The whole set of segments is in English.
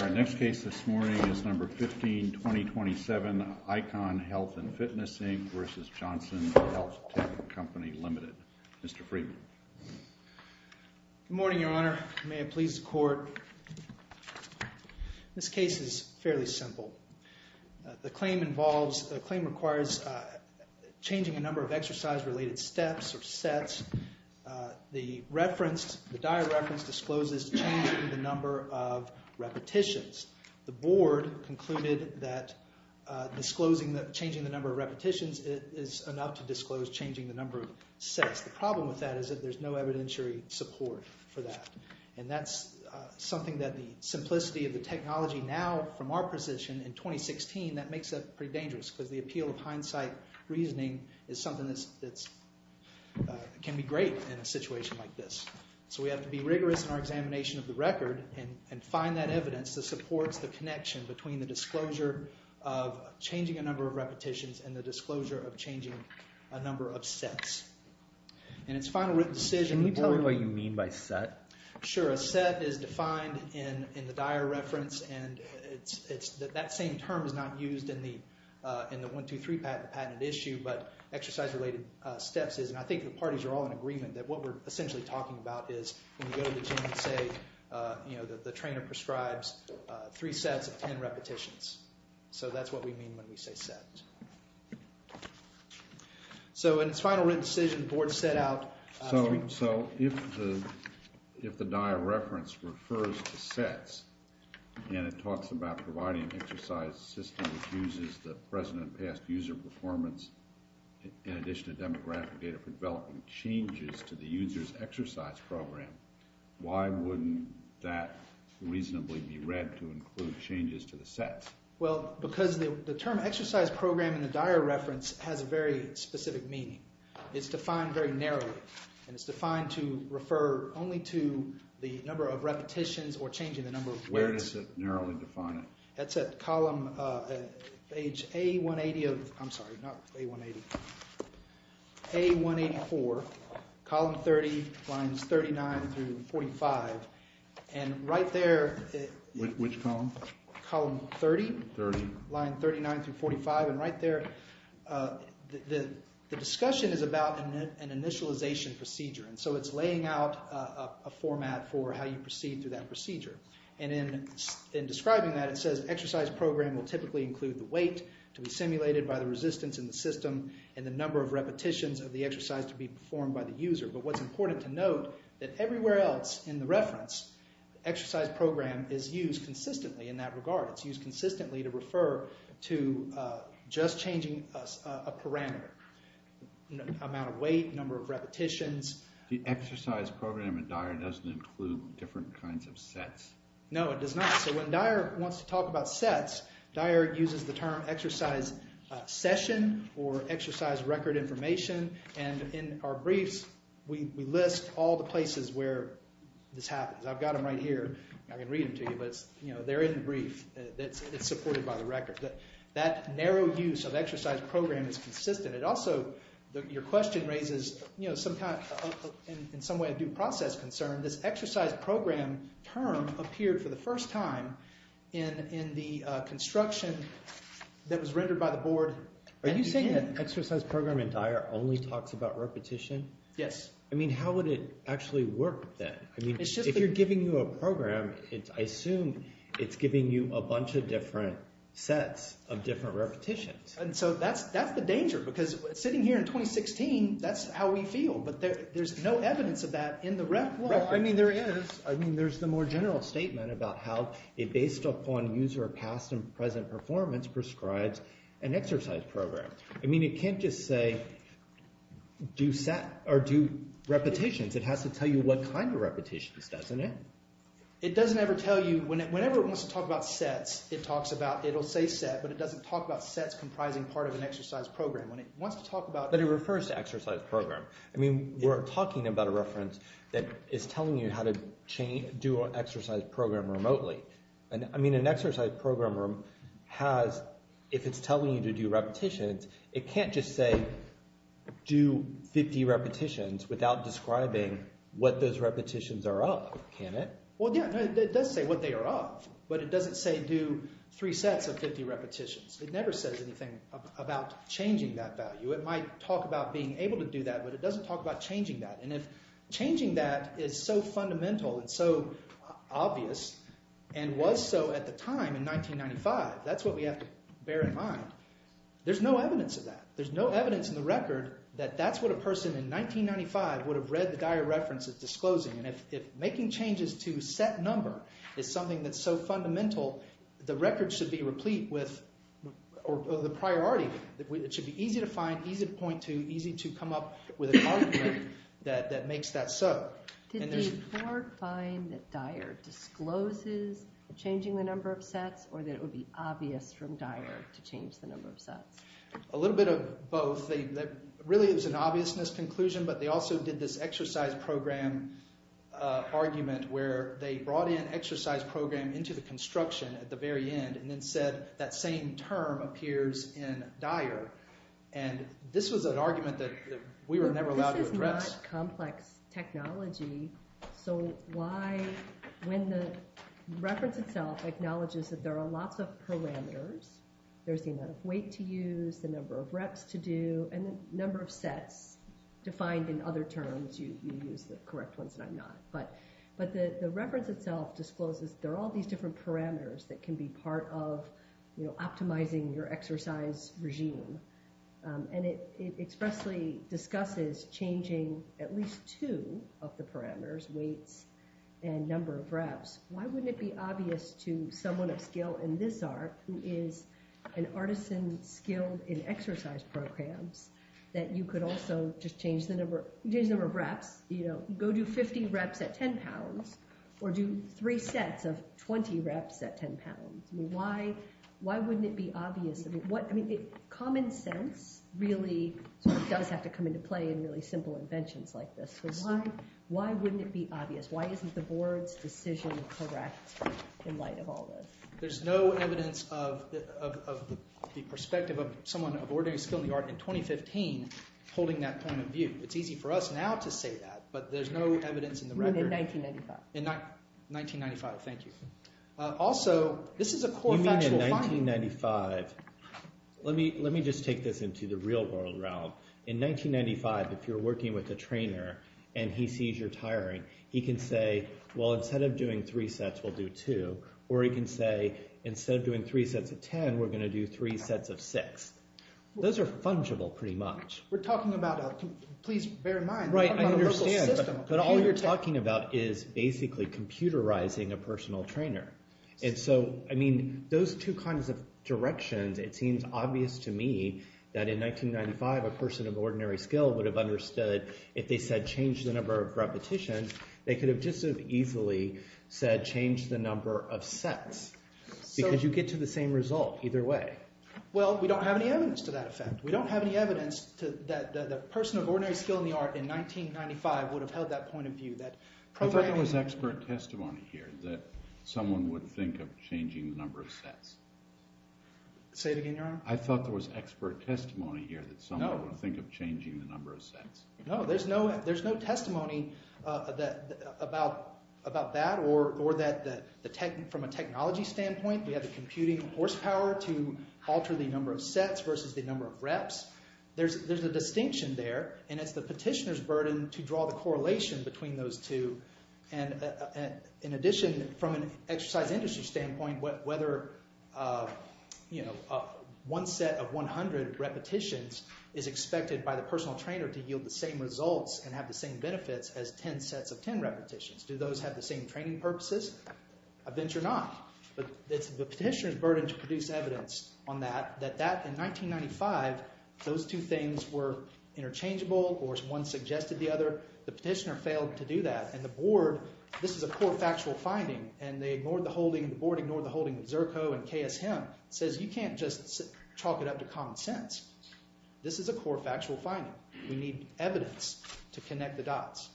Our next case this morning is number 15, 2027, Icon Health and Fitness, Inc. versus Johnson Health Tech Company Limited. Mr. Freeman. Good morning, Your Honor. May it please the court. This case is fairly simple. The claim involves, the claim requires changing a number of exercise-related steps or sets. The reference, the dire reference discloses changing the number of repetitions. The board concluded that changing the number of repetitions is enough to disclose changing the number of sets. The problem with that is that there's no evidentiary support for that. And that's something that the simplicity of the technology now, from our position in 2016, that makes that pretty dangerous. Because the appeal of hindsight reasoning is something that can be great in a situation like this. So we have to be rigorous in our examination of the record and find that evidence that supports the connection between the disclosure of changing a number of repetitions and the disclosure of changing a number of sets. And its final written decision. Can you tell me what you mean by set? Sure, a set is defined in the dire reference. And that same term is not used in the 1, 2, 3 patent issue. But exercise-related steps is, and I think the parties are all in agreement that what we're essentially talking about is when you go to the gym and say, the trainer prescribes three sets of 10 repetitions. So that's what we mean when we say set. So in its final written decision, the board set out. So if the dire reference refers to sets, and it talks about providing an exercise system that uses the present and past user performance in addition to demographic data for developing changes to the user's exercise program, why wouldn't that reasonably be read to include changes to the set? Well, because the term exercise program in the dire reference has a very specific meaning. It's defined very narrowly. And it's defined to refer only to the number of repetitions or changing the number of sets. Where does it narrowly define it? That's at column page A180 of, I'm sorry, not A180. A184, column 30, lines 39 through 45. And right there. Which column? Column 30. 30. Line 39 through 45. And right there, the discussion is about an initialization And so it's laying out a format for how you proceed through that procedure. And in describing that, it says exercise program will typically include the weight to be simulated by the resistance in the system and the number of repetitions of the exercise to be performed by the user. But what's important to note, that everywhere else in the reference, exercise program is used consistently in that regard. It's used consistently to refer to just changing a parameter, amount of weight, number of repetitions. The exercise program in dire doesn't include different kinds of sets. No, it does not. So when dire wants to talk about sets, dire uses the term exercise session or exercise record information. And in our briefs, we list all the places where this happens. I've got them right here. I can read them to you, but they're in the brief. It's supported by the record. That narrow use of exercise program is consistent. It also, your question raises, in some way due process concern, this exercise program term appeared for the first time in the construction that was rendered by the board. Are you saying that exercise program in dire only talks about repetition? Yes. I mean, how would it actually work then? I mean, if you're giving you a program, I assume it's giving you a bunch of different sets of different repetitions. And so that's the danger. Because sitting here in 2016, that's how we feel. But there's no evidence of that in the rep record. Well, I mean, there is. I mean, there's the more general statement about how it based upon user past and present performance prescribes an exercise program. I mean, it can't just say do set or do repetitions. It has to tell you what kind of repetitions, doesn't it? It doesn't ever tell you. Whenever it wants to talk about sets, it talks about, it'll say set, but it doesn't talk about sets comprising part of an exercise program. When it wants to talk about. But it refers to exercise program. I mean, we're talking about a reference that is telling you how to do an exercise program remotely. And I mean, an exercise program has, if it's telling you to do repetitions, it can't just say do 50 repetitions without describing what those repetitions are of, can it? Well, yeah, it does say what they are of. But it doesn't say do three sets of 50 repetitions. It never says anything about changing that value. It might talk about being able to do that, but it doesn't talk about changing that. And if changing that is so fundamental and so obvious and was so at the time in 1995, that's what we have to bear in mind. There's no evidence of that. There's no evidence in the record that that's what a person in 1995 would have read the dire reference as disclosing. And if making changes to set number is something that's so fundamental, the record should be replete with, or the priority, it should be easy to find, easy to point to, easy to come up with an argument that makes that so. And there's- Did the court find that dire discloses changing the number of sets or that it would be obvious from dire to change the number of sets? A little bit of both. Really, it was an obviousness conclusion, but they also did this exercise program argument where they brought in exercise program into the construction at the very end and then said that same term appears in dire. And this was an argument that we were never allowed to address. This is not complex technology. So why, when the reference itself acknowledges that there are lots of parameters, there's the amount of weight to use, the number of reps to do, and the number of sets defined in other terms, you use the correct ones and I'm not, but the reference itself discloses there are all these different parameters that can be part of optimizing your exercise regime. And it expressly discusses changing at least two of the parameters, weights and number of reps. Why wouldn't it be obvious to someone of skill in this art who is an artisan skilled in exercise programs that you could also just change the number of reps, go do 50 reps at 10 pounds or do three sets of 20 reps at 10 pounds? Why wouldn't it be obvious? I mean, common sense really does have to come into play in really simple inventions like this. So why wouldn't it be obvious? Why isn't the board's decision correct in light of all this? There's no evidence of the perspective of someone of ordinary skill in the art in 2015 holding that kind of view. It's easy for us now to say that, but there's no evidence in the record. In 1995, thank you. Also, this is a core factual finding. In 1995, let me just take this into the real world, Raoul. In 1995, if you're working with a trainer and he sees you're tiring, he can say, well, instead of doing three sets, we'll do two. Or he can say, instead of doing three sets of 10, we're gonna do three sets of six. Those are fungible pretty much. We're talking about, please bear in mind, we're talking about a local system. But all you're talking about is basically computerizing a personal trainer. And so, I mean, those two kinds of directions, it seems obvious to me that in 1995, a person of ordinary skill would have understood if they said change the number of repetitions, they could have just as easily said change the number of sets. Because you get to the same result either way. Well, we don't have any evidence to that effect. We don't have any evidence that the person of ordinary skill in the art in 1995 would have held that point of view, that programming. I thought there was expert testimony here that someone would think of changing the number of sets. Say it again, your honor? I thought there was expert testimony here that someone would think of changing the number of sets. No, there's no testimony about that or that from a technology standpoint, we have the computing horsepower to alter the number of sets versus the number of reps. There's a distinction there. And it's the petitioner's burden to draw the correlation between those two. And in addition, from an exercise industry standpoint, whether one set of 100 repetitions is expected by the personal trainer to yield the same results and have the same benefits as 10 sets of 10 repetitions. Do those have the same training purposes? I venture not. But it's the petitioner's burden to produce evidence on that, that in 1995, those two things were interchangeable or one suggested the other. The petitioner failed to do that. And the board, this is a core factual finding. And the board ignored the holding of Zerko and KSM. Says you can't just chalk it up to common sense. This is a core factual finding. We need evidence to connect the dots.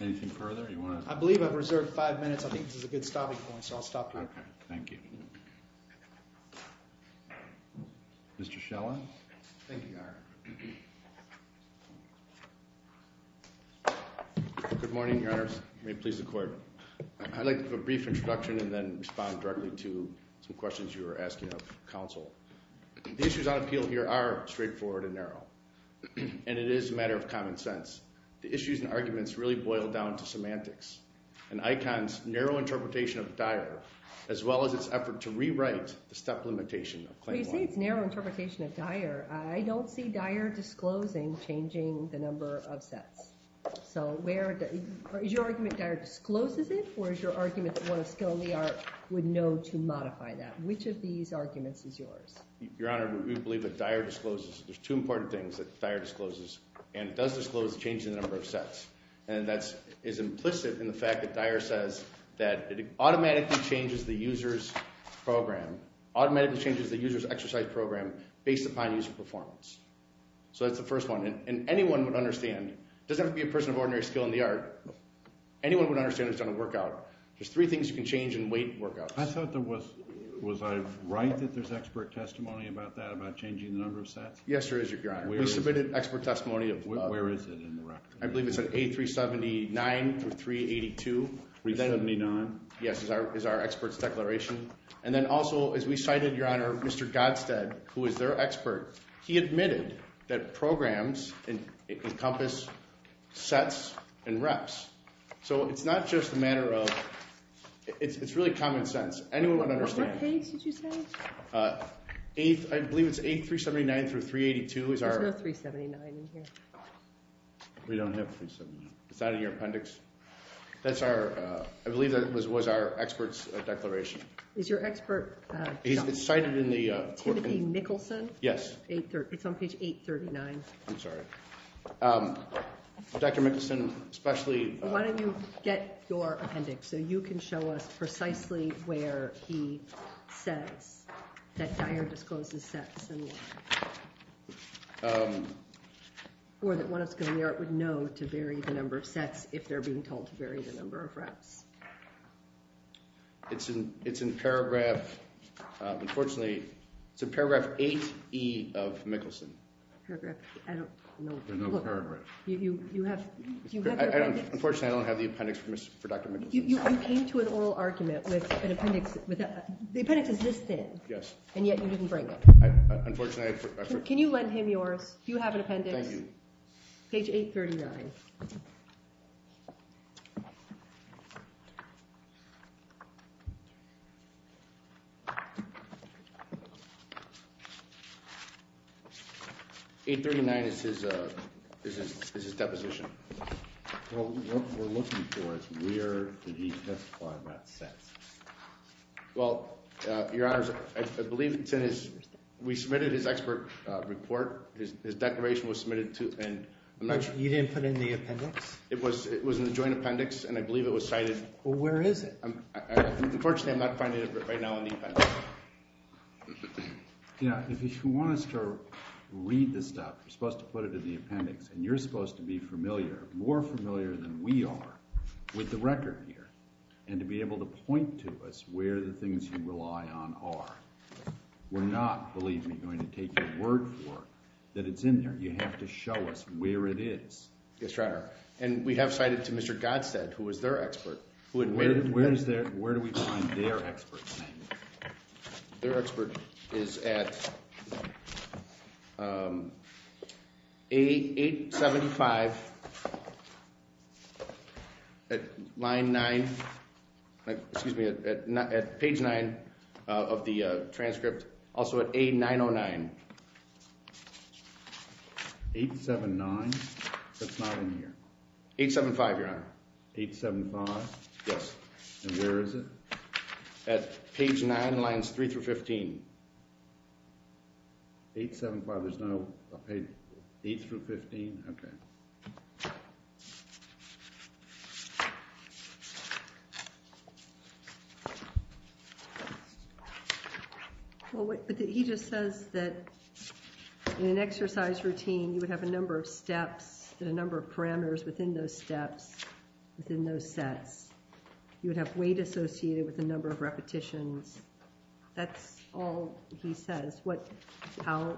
Anything further? I believe I've reserved five minutes. I think this is a good stopping point. So I'll stop here. Thank you. Mr. Shellen. Thank you, Your Honor. Good morning, Your Honors. May it please the court. I'd like to give a brief introduction and then respond directly to some questions you were asking of counsel. The issues on appeal here are straightforward and narrow. And it is a matter of common sense. The issues and arguments really boil down to semantics and ICON's narrow interpretation of Dyer, as well as its effort to rewrite the step limitation of Claim 1. When you say it's narrow interpretation of Dyer, I don't see Dyer disclosing changing the number of sets. So is your argument Dyer discloses it? Or is your argument one of skill in the art would know to modify that? Which of these arguments is yours? Your Honor, we believe that Dyer discloses. There's two important things that Dyer discloses. And it does disclose the change in the number of sets. And that is implicit in the fact that Dyer says that it automatically changes the user's program, automatically changes the user's exercise program based upon user performance. So that's the first one. And anyone would understand, it doesn't have to be a person of ordinary skill in the art, anyone would understand it's done a workout. There's three things you can change in weight workouts. I thought there was, was I right that there's expert testimony about that, about changing the number of sets? Yes, there is, Your Honor. We submitted expert testimony of where is it in the record? I believe it's at 8379 through 382. 379? Yes, is our expert's declaration. And then also, as we cited, Your Honor, Mr. Godstead, who is their expert, he admitted that programs encompass sets and reps. So it's not just a matter of, it's really common sense. Anyone would understand. What page did you say? I believe it's 8379 through 382 is There's no 379 in here. We don't have 379. Is that in your appendix? That's our, I believe that was our expert's declaration. Is your expert? He's cited in the court. Timothy Nicholson? Yes. It's on page 839. I'm sorry. Dr. Nicholson, especially. Why don't you get your appendix so you can show us precisely where he says that Dyer discloses sets and what? Or that one of the scholarly art would know to vary the number of sets if they're being told to vary the number of reps. It's in paragraph, unfortunately, it's in paragraph 8E of Nicholson. I don't know. There's no paragraph. You have, do you have the appendix? Unfortunately, I don't have the appendix for Dr. Nicholson. You came to an oral argument with an appendix. The appendix is this thin. Yes. And yet you didn't bring it. Unfortunately, I forgot. Can you lend him yours? Do you have an appendix? Thank you. Page 839. 839 is his deposition. What we're looking for is where did he testify about sets. Well, your honors, I believe it's in his, we submitted his expert report. His declaration was submitted to, and I'm not sure. You didn't put it in the appendix? It was in the joint appendix, and I believe it was cited. Well, where is it? Unfortunately, I'm not finding it right now in the appendix. Yeah, if you want us to read this stuff, you're supposed to put it in the appendix. And you're supposed to be familiar, more familiar than we are, with the record here, and to be able to point to us where the things you rely on are. We're not, believe me, going to take your word for it that it's in there. You have to show us where it is. Yes, your honor. And we have cited to Mr. Godstead, who Where do we find their expert's name? Their expert is at 875, at line 9, excuse me, at page 9 of the transcript, also at A909. 879? That's not in here. 875, your honor. 875? Yes. And where is it? At page 9, lines 3 through 15. 875, there's no page 8 through 15? OK. But he just says that in an exercise routine, you would have a number of steps and a number of parameters within those steps, within those sets. You would have weight associated with a number of repetitions. That's all he says. How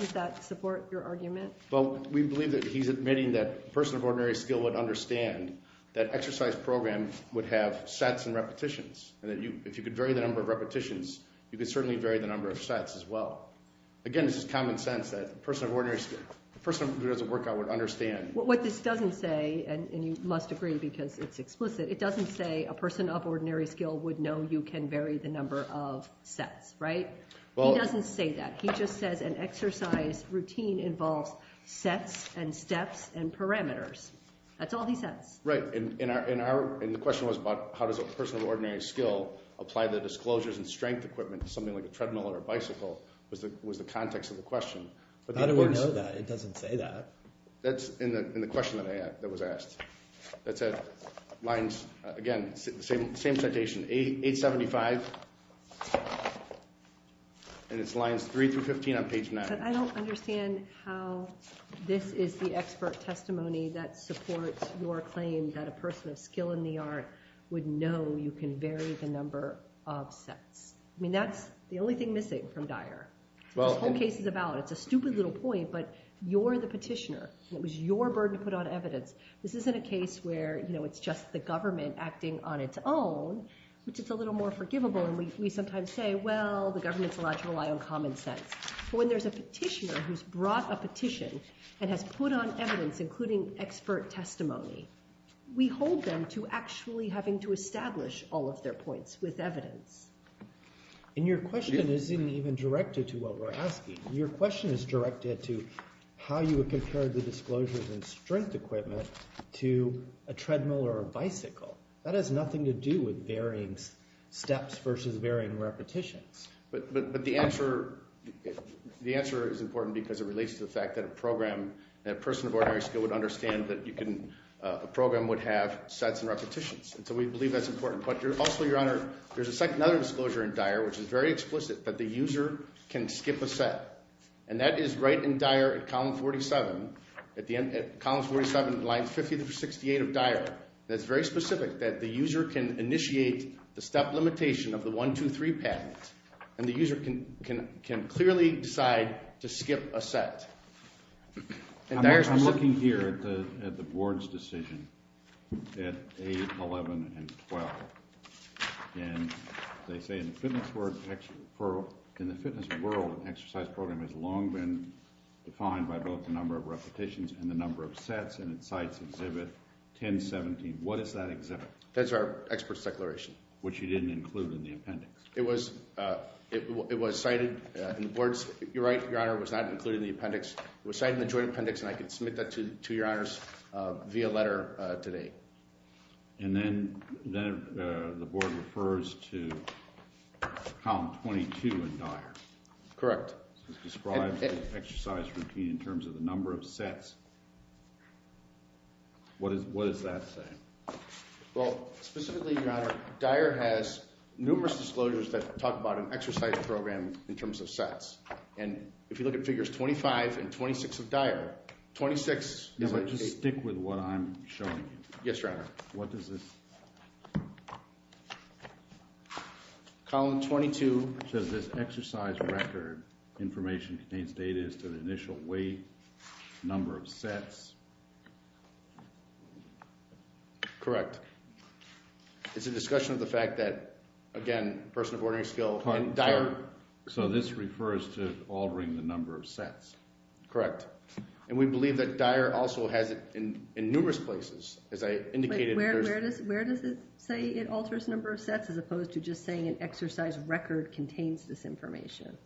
does that support your argument? Well, we believe that he's admitting that a person of ordinary skill would understand that exercise programs would have sets and repetitions. And if you could vary the number of repetitions, you could certainly vary the number of sets as well. Again, it's just common sense that a person of ordinary skill, a person who does a workout would understand. What this doesn't say, and you must agree because it's explicit, it doesn't say a person of ordinary skill would know you can vary the number of sets, right? He doesn't say that. He just says an exercise routine involves sets and steps and parameters. That's all he says. Right. And the question was about how does a person of ordinary skill apply the disclosures and strength equipment to something like a treadmill or a bicycle was the context of the question. How do we know that? It doesn't say that. That's in the question that was asked. That's at lines, again, same citation, 875. And it's lines 3 through 15 on page 9. I don't understand how this is the expert testimony that supports your claim that a person of skill in the art would know you can vary the number of sets. I mean, that's the only thing missing from Dyer. This whole case is about it. It's a stupid little point. But you're the petitioner. It was your burden to put on evidence. This isn't a case where it's just the government acting on its own, which is a little more forgivable. And we sometimes say, well, the government's allowed to rely on common sense. But when there's a petitioner who's brought a petition and has put on evidence, including expert testimony, we hold them to actually having to establish all of their points with evidence. And your question isn't even directed to what we're asking. Your question is directed to how you would compare the disclosures and strength equipment to a treadmill or a bicycle. That has nothing to do with varying steps versus varying repetitions. But the answer is important because it relates to the fact that a person of ordinary skill would understand that a program would have sets and repetitions. And so we believe that's important. But also, Your Honor, there's a second other disclosure in Dyer, which is very explicit. That the user can skip a set. And that is right in Dyer at column 47, at column 47, line 50 through 68 of Dyer. That's very specific, that the user can initiate the step limitation of the 1, 2, 3 patent. And the user can clearly decide to skip a set. And Dyer's specific. I'm looking here at the board's decision at 8, 11, and 12. And they say, in the fitness world, an exercise program has long been defined by both the number of repetitions and the number of sets. And it cites exhibit 1017. What is that exhibit? That's our expert's declaration. Which you didn't include in the appendix. It was cited in the board's. You're right, Your Honor, it was not included in the appendix. It was cited in the joint appendix. And I can submit that to Your Honors via letter today. And then the board refers to column 22 in Dyer. Correct. It's described as an exercise routine in terms of the number of sets. What does that say? Well, specifically, Your Honor, Dyer has numerous disclosures that talk about an exercise program in terms of sets. And if you look at figures 25 and 26 of Dyer, 26 is a Just stick with what I'm showing you. Yes, Your Honor. What does this? Column 22. Does this exercise record information contains data as to the initial weight, number of sets? Correct. It's a discussion of the fact that, again, person of ordering skill in Dyer. So this refers to altering the number of sets. Correct. And we believe that Dyer also has it in numerous places, as I indicated. Where does it say it alters number of sets, as opposed to just saying an exercise record contains this information?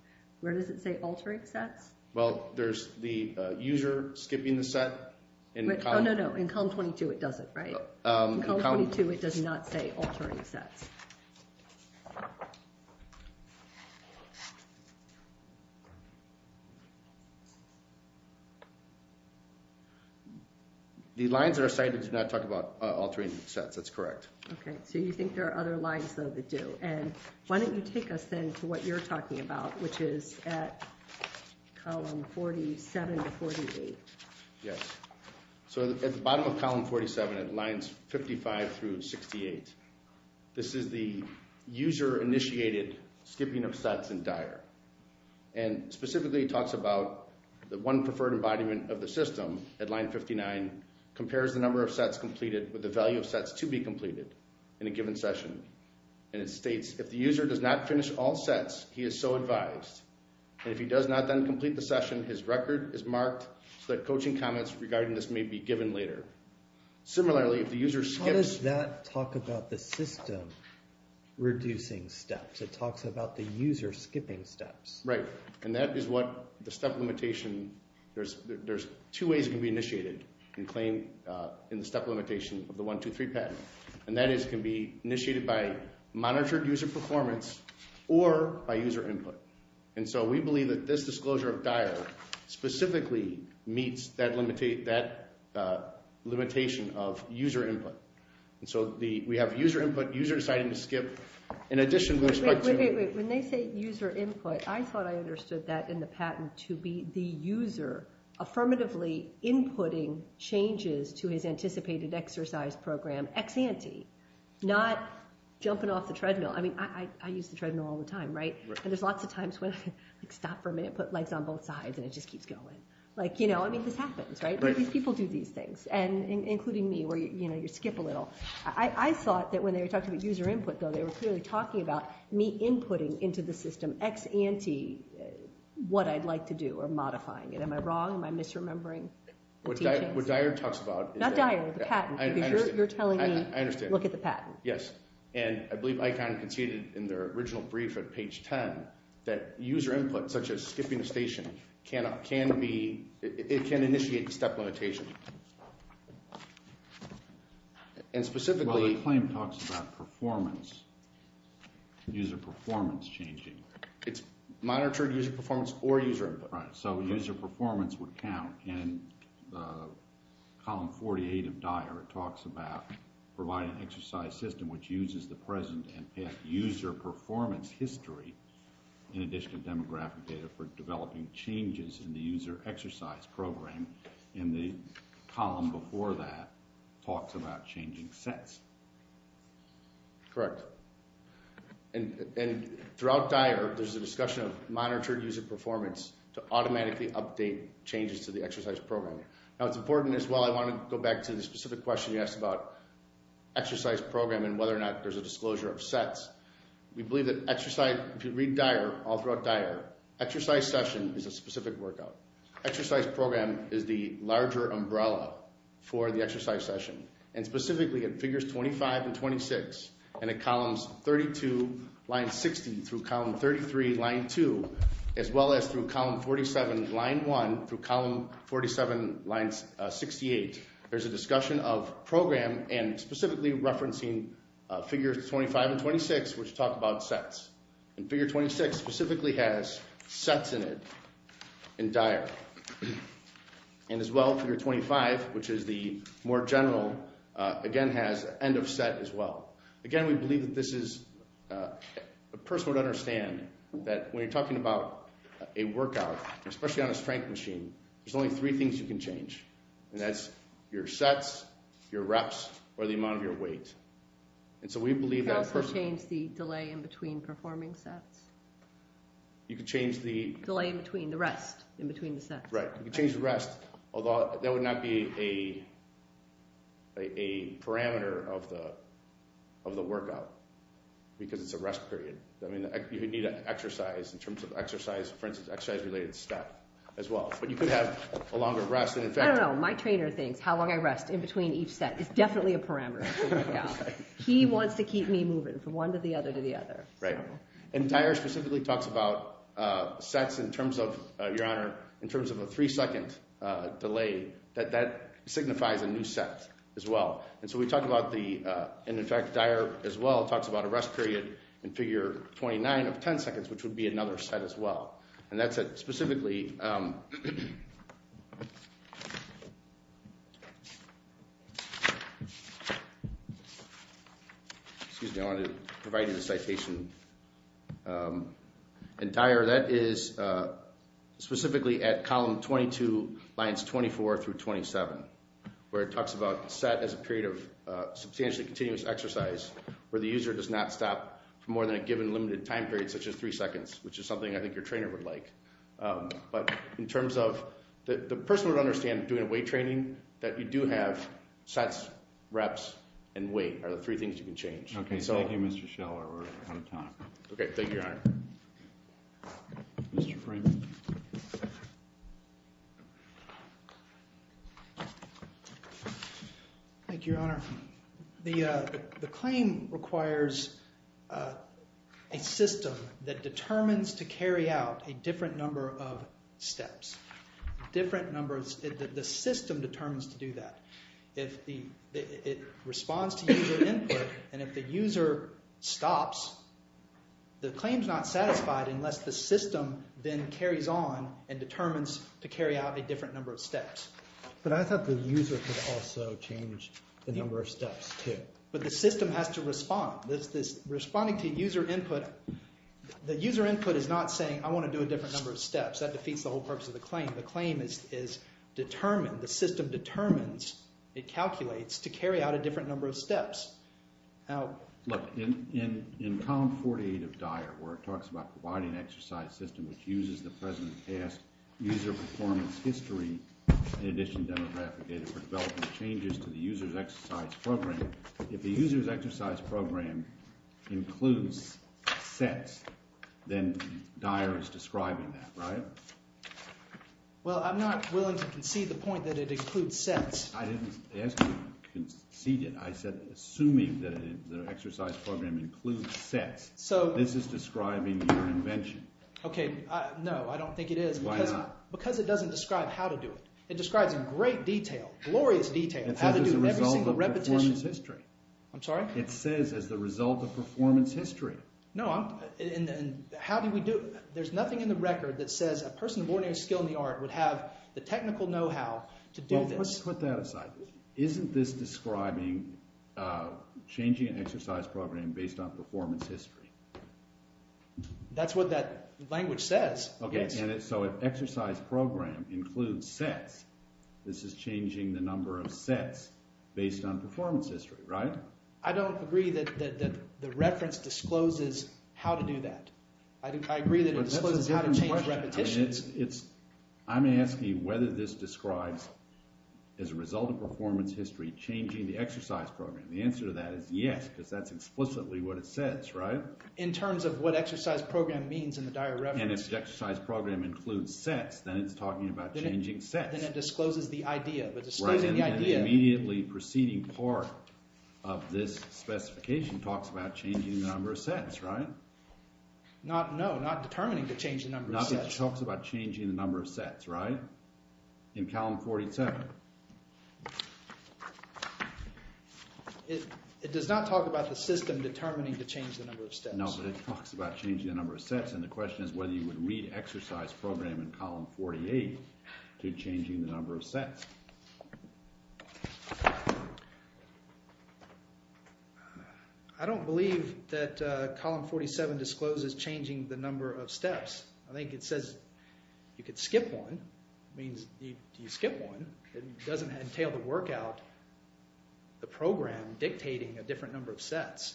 Where does it say altering sets? Well, there's the user skipping the set. Oh, no, no. In column 22, it doesn't, right? In column 22, it does not say altering sets. Yes. The lines that are cited do not talk about altering sets. That's correct. OK. So you think there are other lines, though, that do. And why don't you take us, then, to what you're talking about, which is at column 47 to 48. Yes. So at the bottom of column 47, at lines 55 through 68, this is the user-initiated skipping of sets in Dyer. And specifically, it talks about the one preferred embodiment of the system at line 59, compares the number of sets completed with the value of sets to be completed in a given session. And it states, if the user does not finish all sets, he is so advised. And if he does not then complete the session, his record is marked so that coaching comments regarding this may be given later. Similarly, if the user skips- Does that talk about the system reducing steps? It talks about the user skipping steps. Right. And that is what the step limitation, there's two ways it can be initiated and claimed in the step limitation of the 123 patent. And that is it can be initiated by monitored user performance or by user input. And so we believe that this disclosure of Dyer specifically meets that limitation of user input. And so we have user input, user deciding to skip, in addition with respect to- When they say user input, I thought I understood that in the patent to be the user affirmatively inputting changes to his anticipated exercise program ex-ante, not jumping off the treadmill. I mean, I use the treadmill all the time, right? And there's lots of times when I stop for a minute, put legs on both sides, and it just keeps going. Like, you know, I mean, this happens, right? These people do these things, and including me, where you skip a little. I thought that when they were talking about user input, though, they were clearly talking about me inputting into the system ex-ante what I'd like to do or modifying it. Am I wrong? Am I misremembering the teachings? What Dyer talks about is that- Not Dyer, the patent, because you're telling me look at the patent. Yes. And I believe ICON conceded in their original brief at page 10 that user input, such as skipping a station, cannot, can be, it can initiate the step limitation. And specifically- Well, the claim talks about performance, user performance changing. It's monitored user performance or user input. So user performance would count. And column 48 of Dyer, it talks about providing an exercise system which uses the present and past user performance history in addition to demographic data for developing changes in the user exercise program. And the column before that talks about changing sets. Correct. And throughout Dyer, there's a discussion of monitored user performance to automatically update changes to the exercise program. Now, it's important as well, I want to go back to the specific question you asked about exercise program and whether or not there's a disclosure of sets. We believe that exercise, if you read Dyer, all throughout Dyer, exercise session is a specific workout. Exercise program is the larger umbrella for the exercise session. And specifically, in figures 25 and 26, and in columns 32, line 60, through column 33, line 2, as well as through column 47, line 1, through column 47, line 68, there's a discussion of program and specifically referencing figures 25 and 26, which talk about sets. And figure 26 specifically has sets in it in Dyer. And as well, figure 25, which is the more general, again, has end of set as well. Again, we believe that this is a person would understand that when you're talking about a workout, especially on a strength machine, there's only three things you can change. And that's your sets, your reps, or the amount of your weight. And so we believe that a person- You can also change the delay in between performing sets. You can change the- Delay in between, the rest in between the sets. Right. You can change the rest, although that would not be a parameter of the workout, because it's a rest period. I mean, you need to exercise in terms of exercise, for instance, exercise-related step as well. But you could have a longer rest. I don't know. My trainer thinks how long I rest in between each set is definitely a parameter. He wants to keep me moving from one to the other to the other. Right. And Dyer specifically talks about sets in terms of, Your Honor, in terms of a three-second delay, that that signifies a new set as well. And so we talk about the- and in fact, Dyer as well talks about a rest period in figure 29 of 10 seconds, which would be another set as well. And that's specifically- excuse me, I wanted to provide you the citation. And Dyer, that is specifically at column 22, lines 24 through 27, where it talks about set as a period of substantially continuous exercise, where the user does not stop for more than a given limited time period, such as three seconds, which is something I think your trainer would like. But in terms of the person would understand doing a weight training, that you do have sets, reps, and weight are the three things you can change. OK, thank you, Mr. Scheller. We're out of time. OK, thank you, Your Honor. Mr. Freeman. Thank you, Your Honor. The claim requires a system that determines to carry out a different number of steps. Different numbers. The system determines to do that. If it responds to user input, and if the user stops, the claim's not satisfied unless the system then carries on and determines to carry out a different number of steps. But I thought the user could also change the number of steps, too. But the system has to respond. Responding to user input, the user input is not saying, I want to do a different number of steps. That defeats the whole purpose of the claim. The claim is determined. The system determines, it calculates, to carry out a different number of steps. Look, in column 48 of Dyer, where it talks about providing an exercise system which uses the present and past user performance history, in addition to demographic data for development changes to the user's exercise program, if the user's exercise program includes sets, then Dyer is describing that, right? Well, I'm not willing to concede the point that it includes sets. I didn't ask you to concede it. I said, assuming that the exercise program includes sets, this is describing your invention. OK, no, I don't think it is. Why not? Because it doesn't describe how to do it. It describes in great detail, glorious detail, how to do every single repetition. It says as a result of performance history. I'm sorry? It says as the result of performance history. No, I'm, how do we do, there's nothing in the record that says a person of ordinary skill in the art would have the technical know-how to do this. Well, let's put that aside. Isn't this describing changing an exercise program based on performance history? That's what that language says. OK, so if exercise program includes sets, this is changing the number of sets based on performance history, right? I don't agree that the reference discloses how to do that. I agree that it discloses how to change repetitions. I'm asking you whether this describes, as a result of performance history, changing the exercise program. The answer to that is yes, because that's explicitly what it says, right? In terms of what exercise program means in the dire reference. And if the exercise program includes sets, then it's talking about changing sets. Then it discloses the idea, but disclosing the idea. The immediately preceding part of this specification talks about changing the number of sets, right? Not, no, not determining to change the number of sets. No, it talks about changing the number of sets, right? In column 47. It does not talk about the system determining to change the number of sets. No, but it talks about changing the number of sets. And the question is whether you would read exercise program in column 48 to changing the number of sets. I don't believe that column 47 discloses changing the number of steps. I think it says you could skip one. Means you skip one. It doesn't entail to work out the program dictating a different number of sets.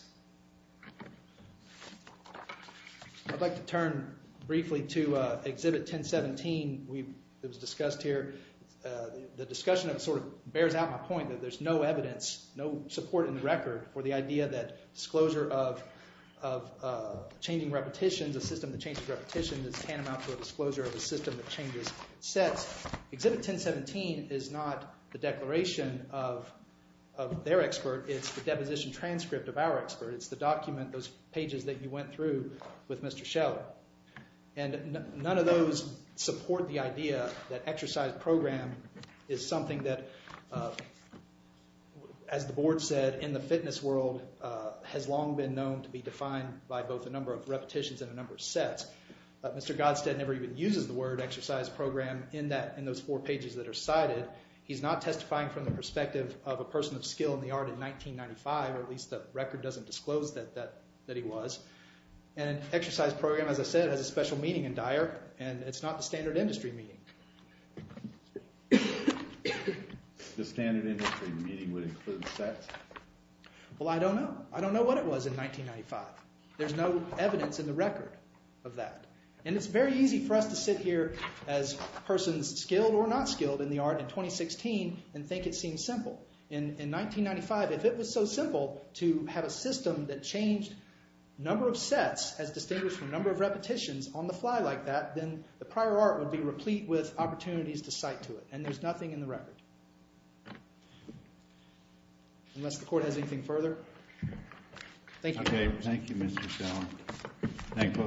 I'd like to turn briefly to exhibit 1017. It was discussed here. The discussion of it sort of bears out my point that there's no evidence, no support in the record for the idea that disclosure of changing repetitions, a system that changes repetitions is tantamount to a disclosure of a system that changes sets. Exhibit 1017 is not the declaration of their expert. It's the deposition transcript of our expert. It's the document, those pages that you went through with Mr. Scheller. And none of those support the idea that exercise program is something that, as the board said, in the fitness world has long been known to be defined by both a number of repetitions and a number of sets. Mr. Godstead never even uses the word exercise program in those four pages that are cited. He's not testifying from the perspective of a person of skill in the art in 1995, or at least the record doesn't disclose that he was. And exercise program, as I said, has a special meaning in Dyer, and it's not the standard industry meaning. The standard industry meaning would include sets. Well, I don't know. I don't know what it was in 1995. There's no evidence in the record of that. And it's very easy for us to sit here as persons skilled or not skilled in the art in 2016 and think it seems simple. In 1995, if it was so simple to have a system that changed number of sets as distinguished from number of repetitions on the fly like that, then the prior art would be replete with opportunities to cite to it. And there's nothing in the record, unless the court has anything further. Thank you. Thank you, Mr. Shelley.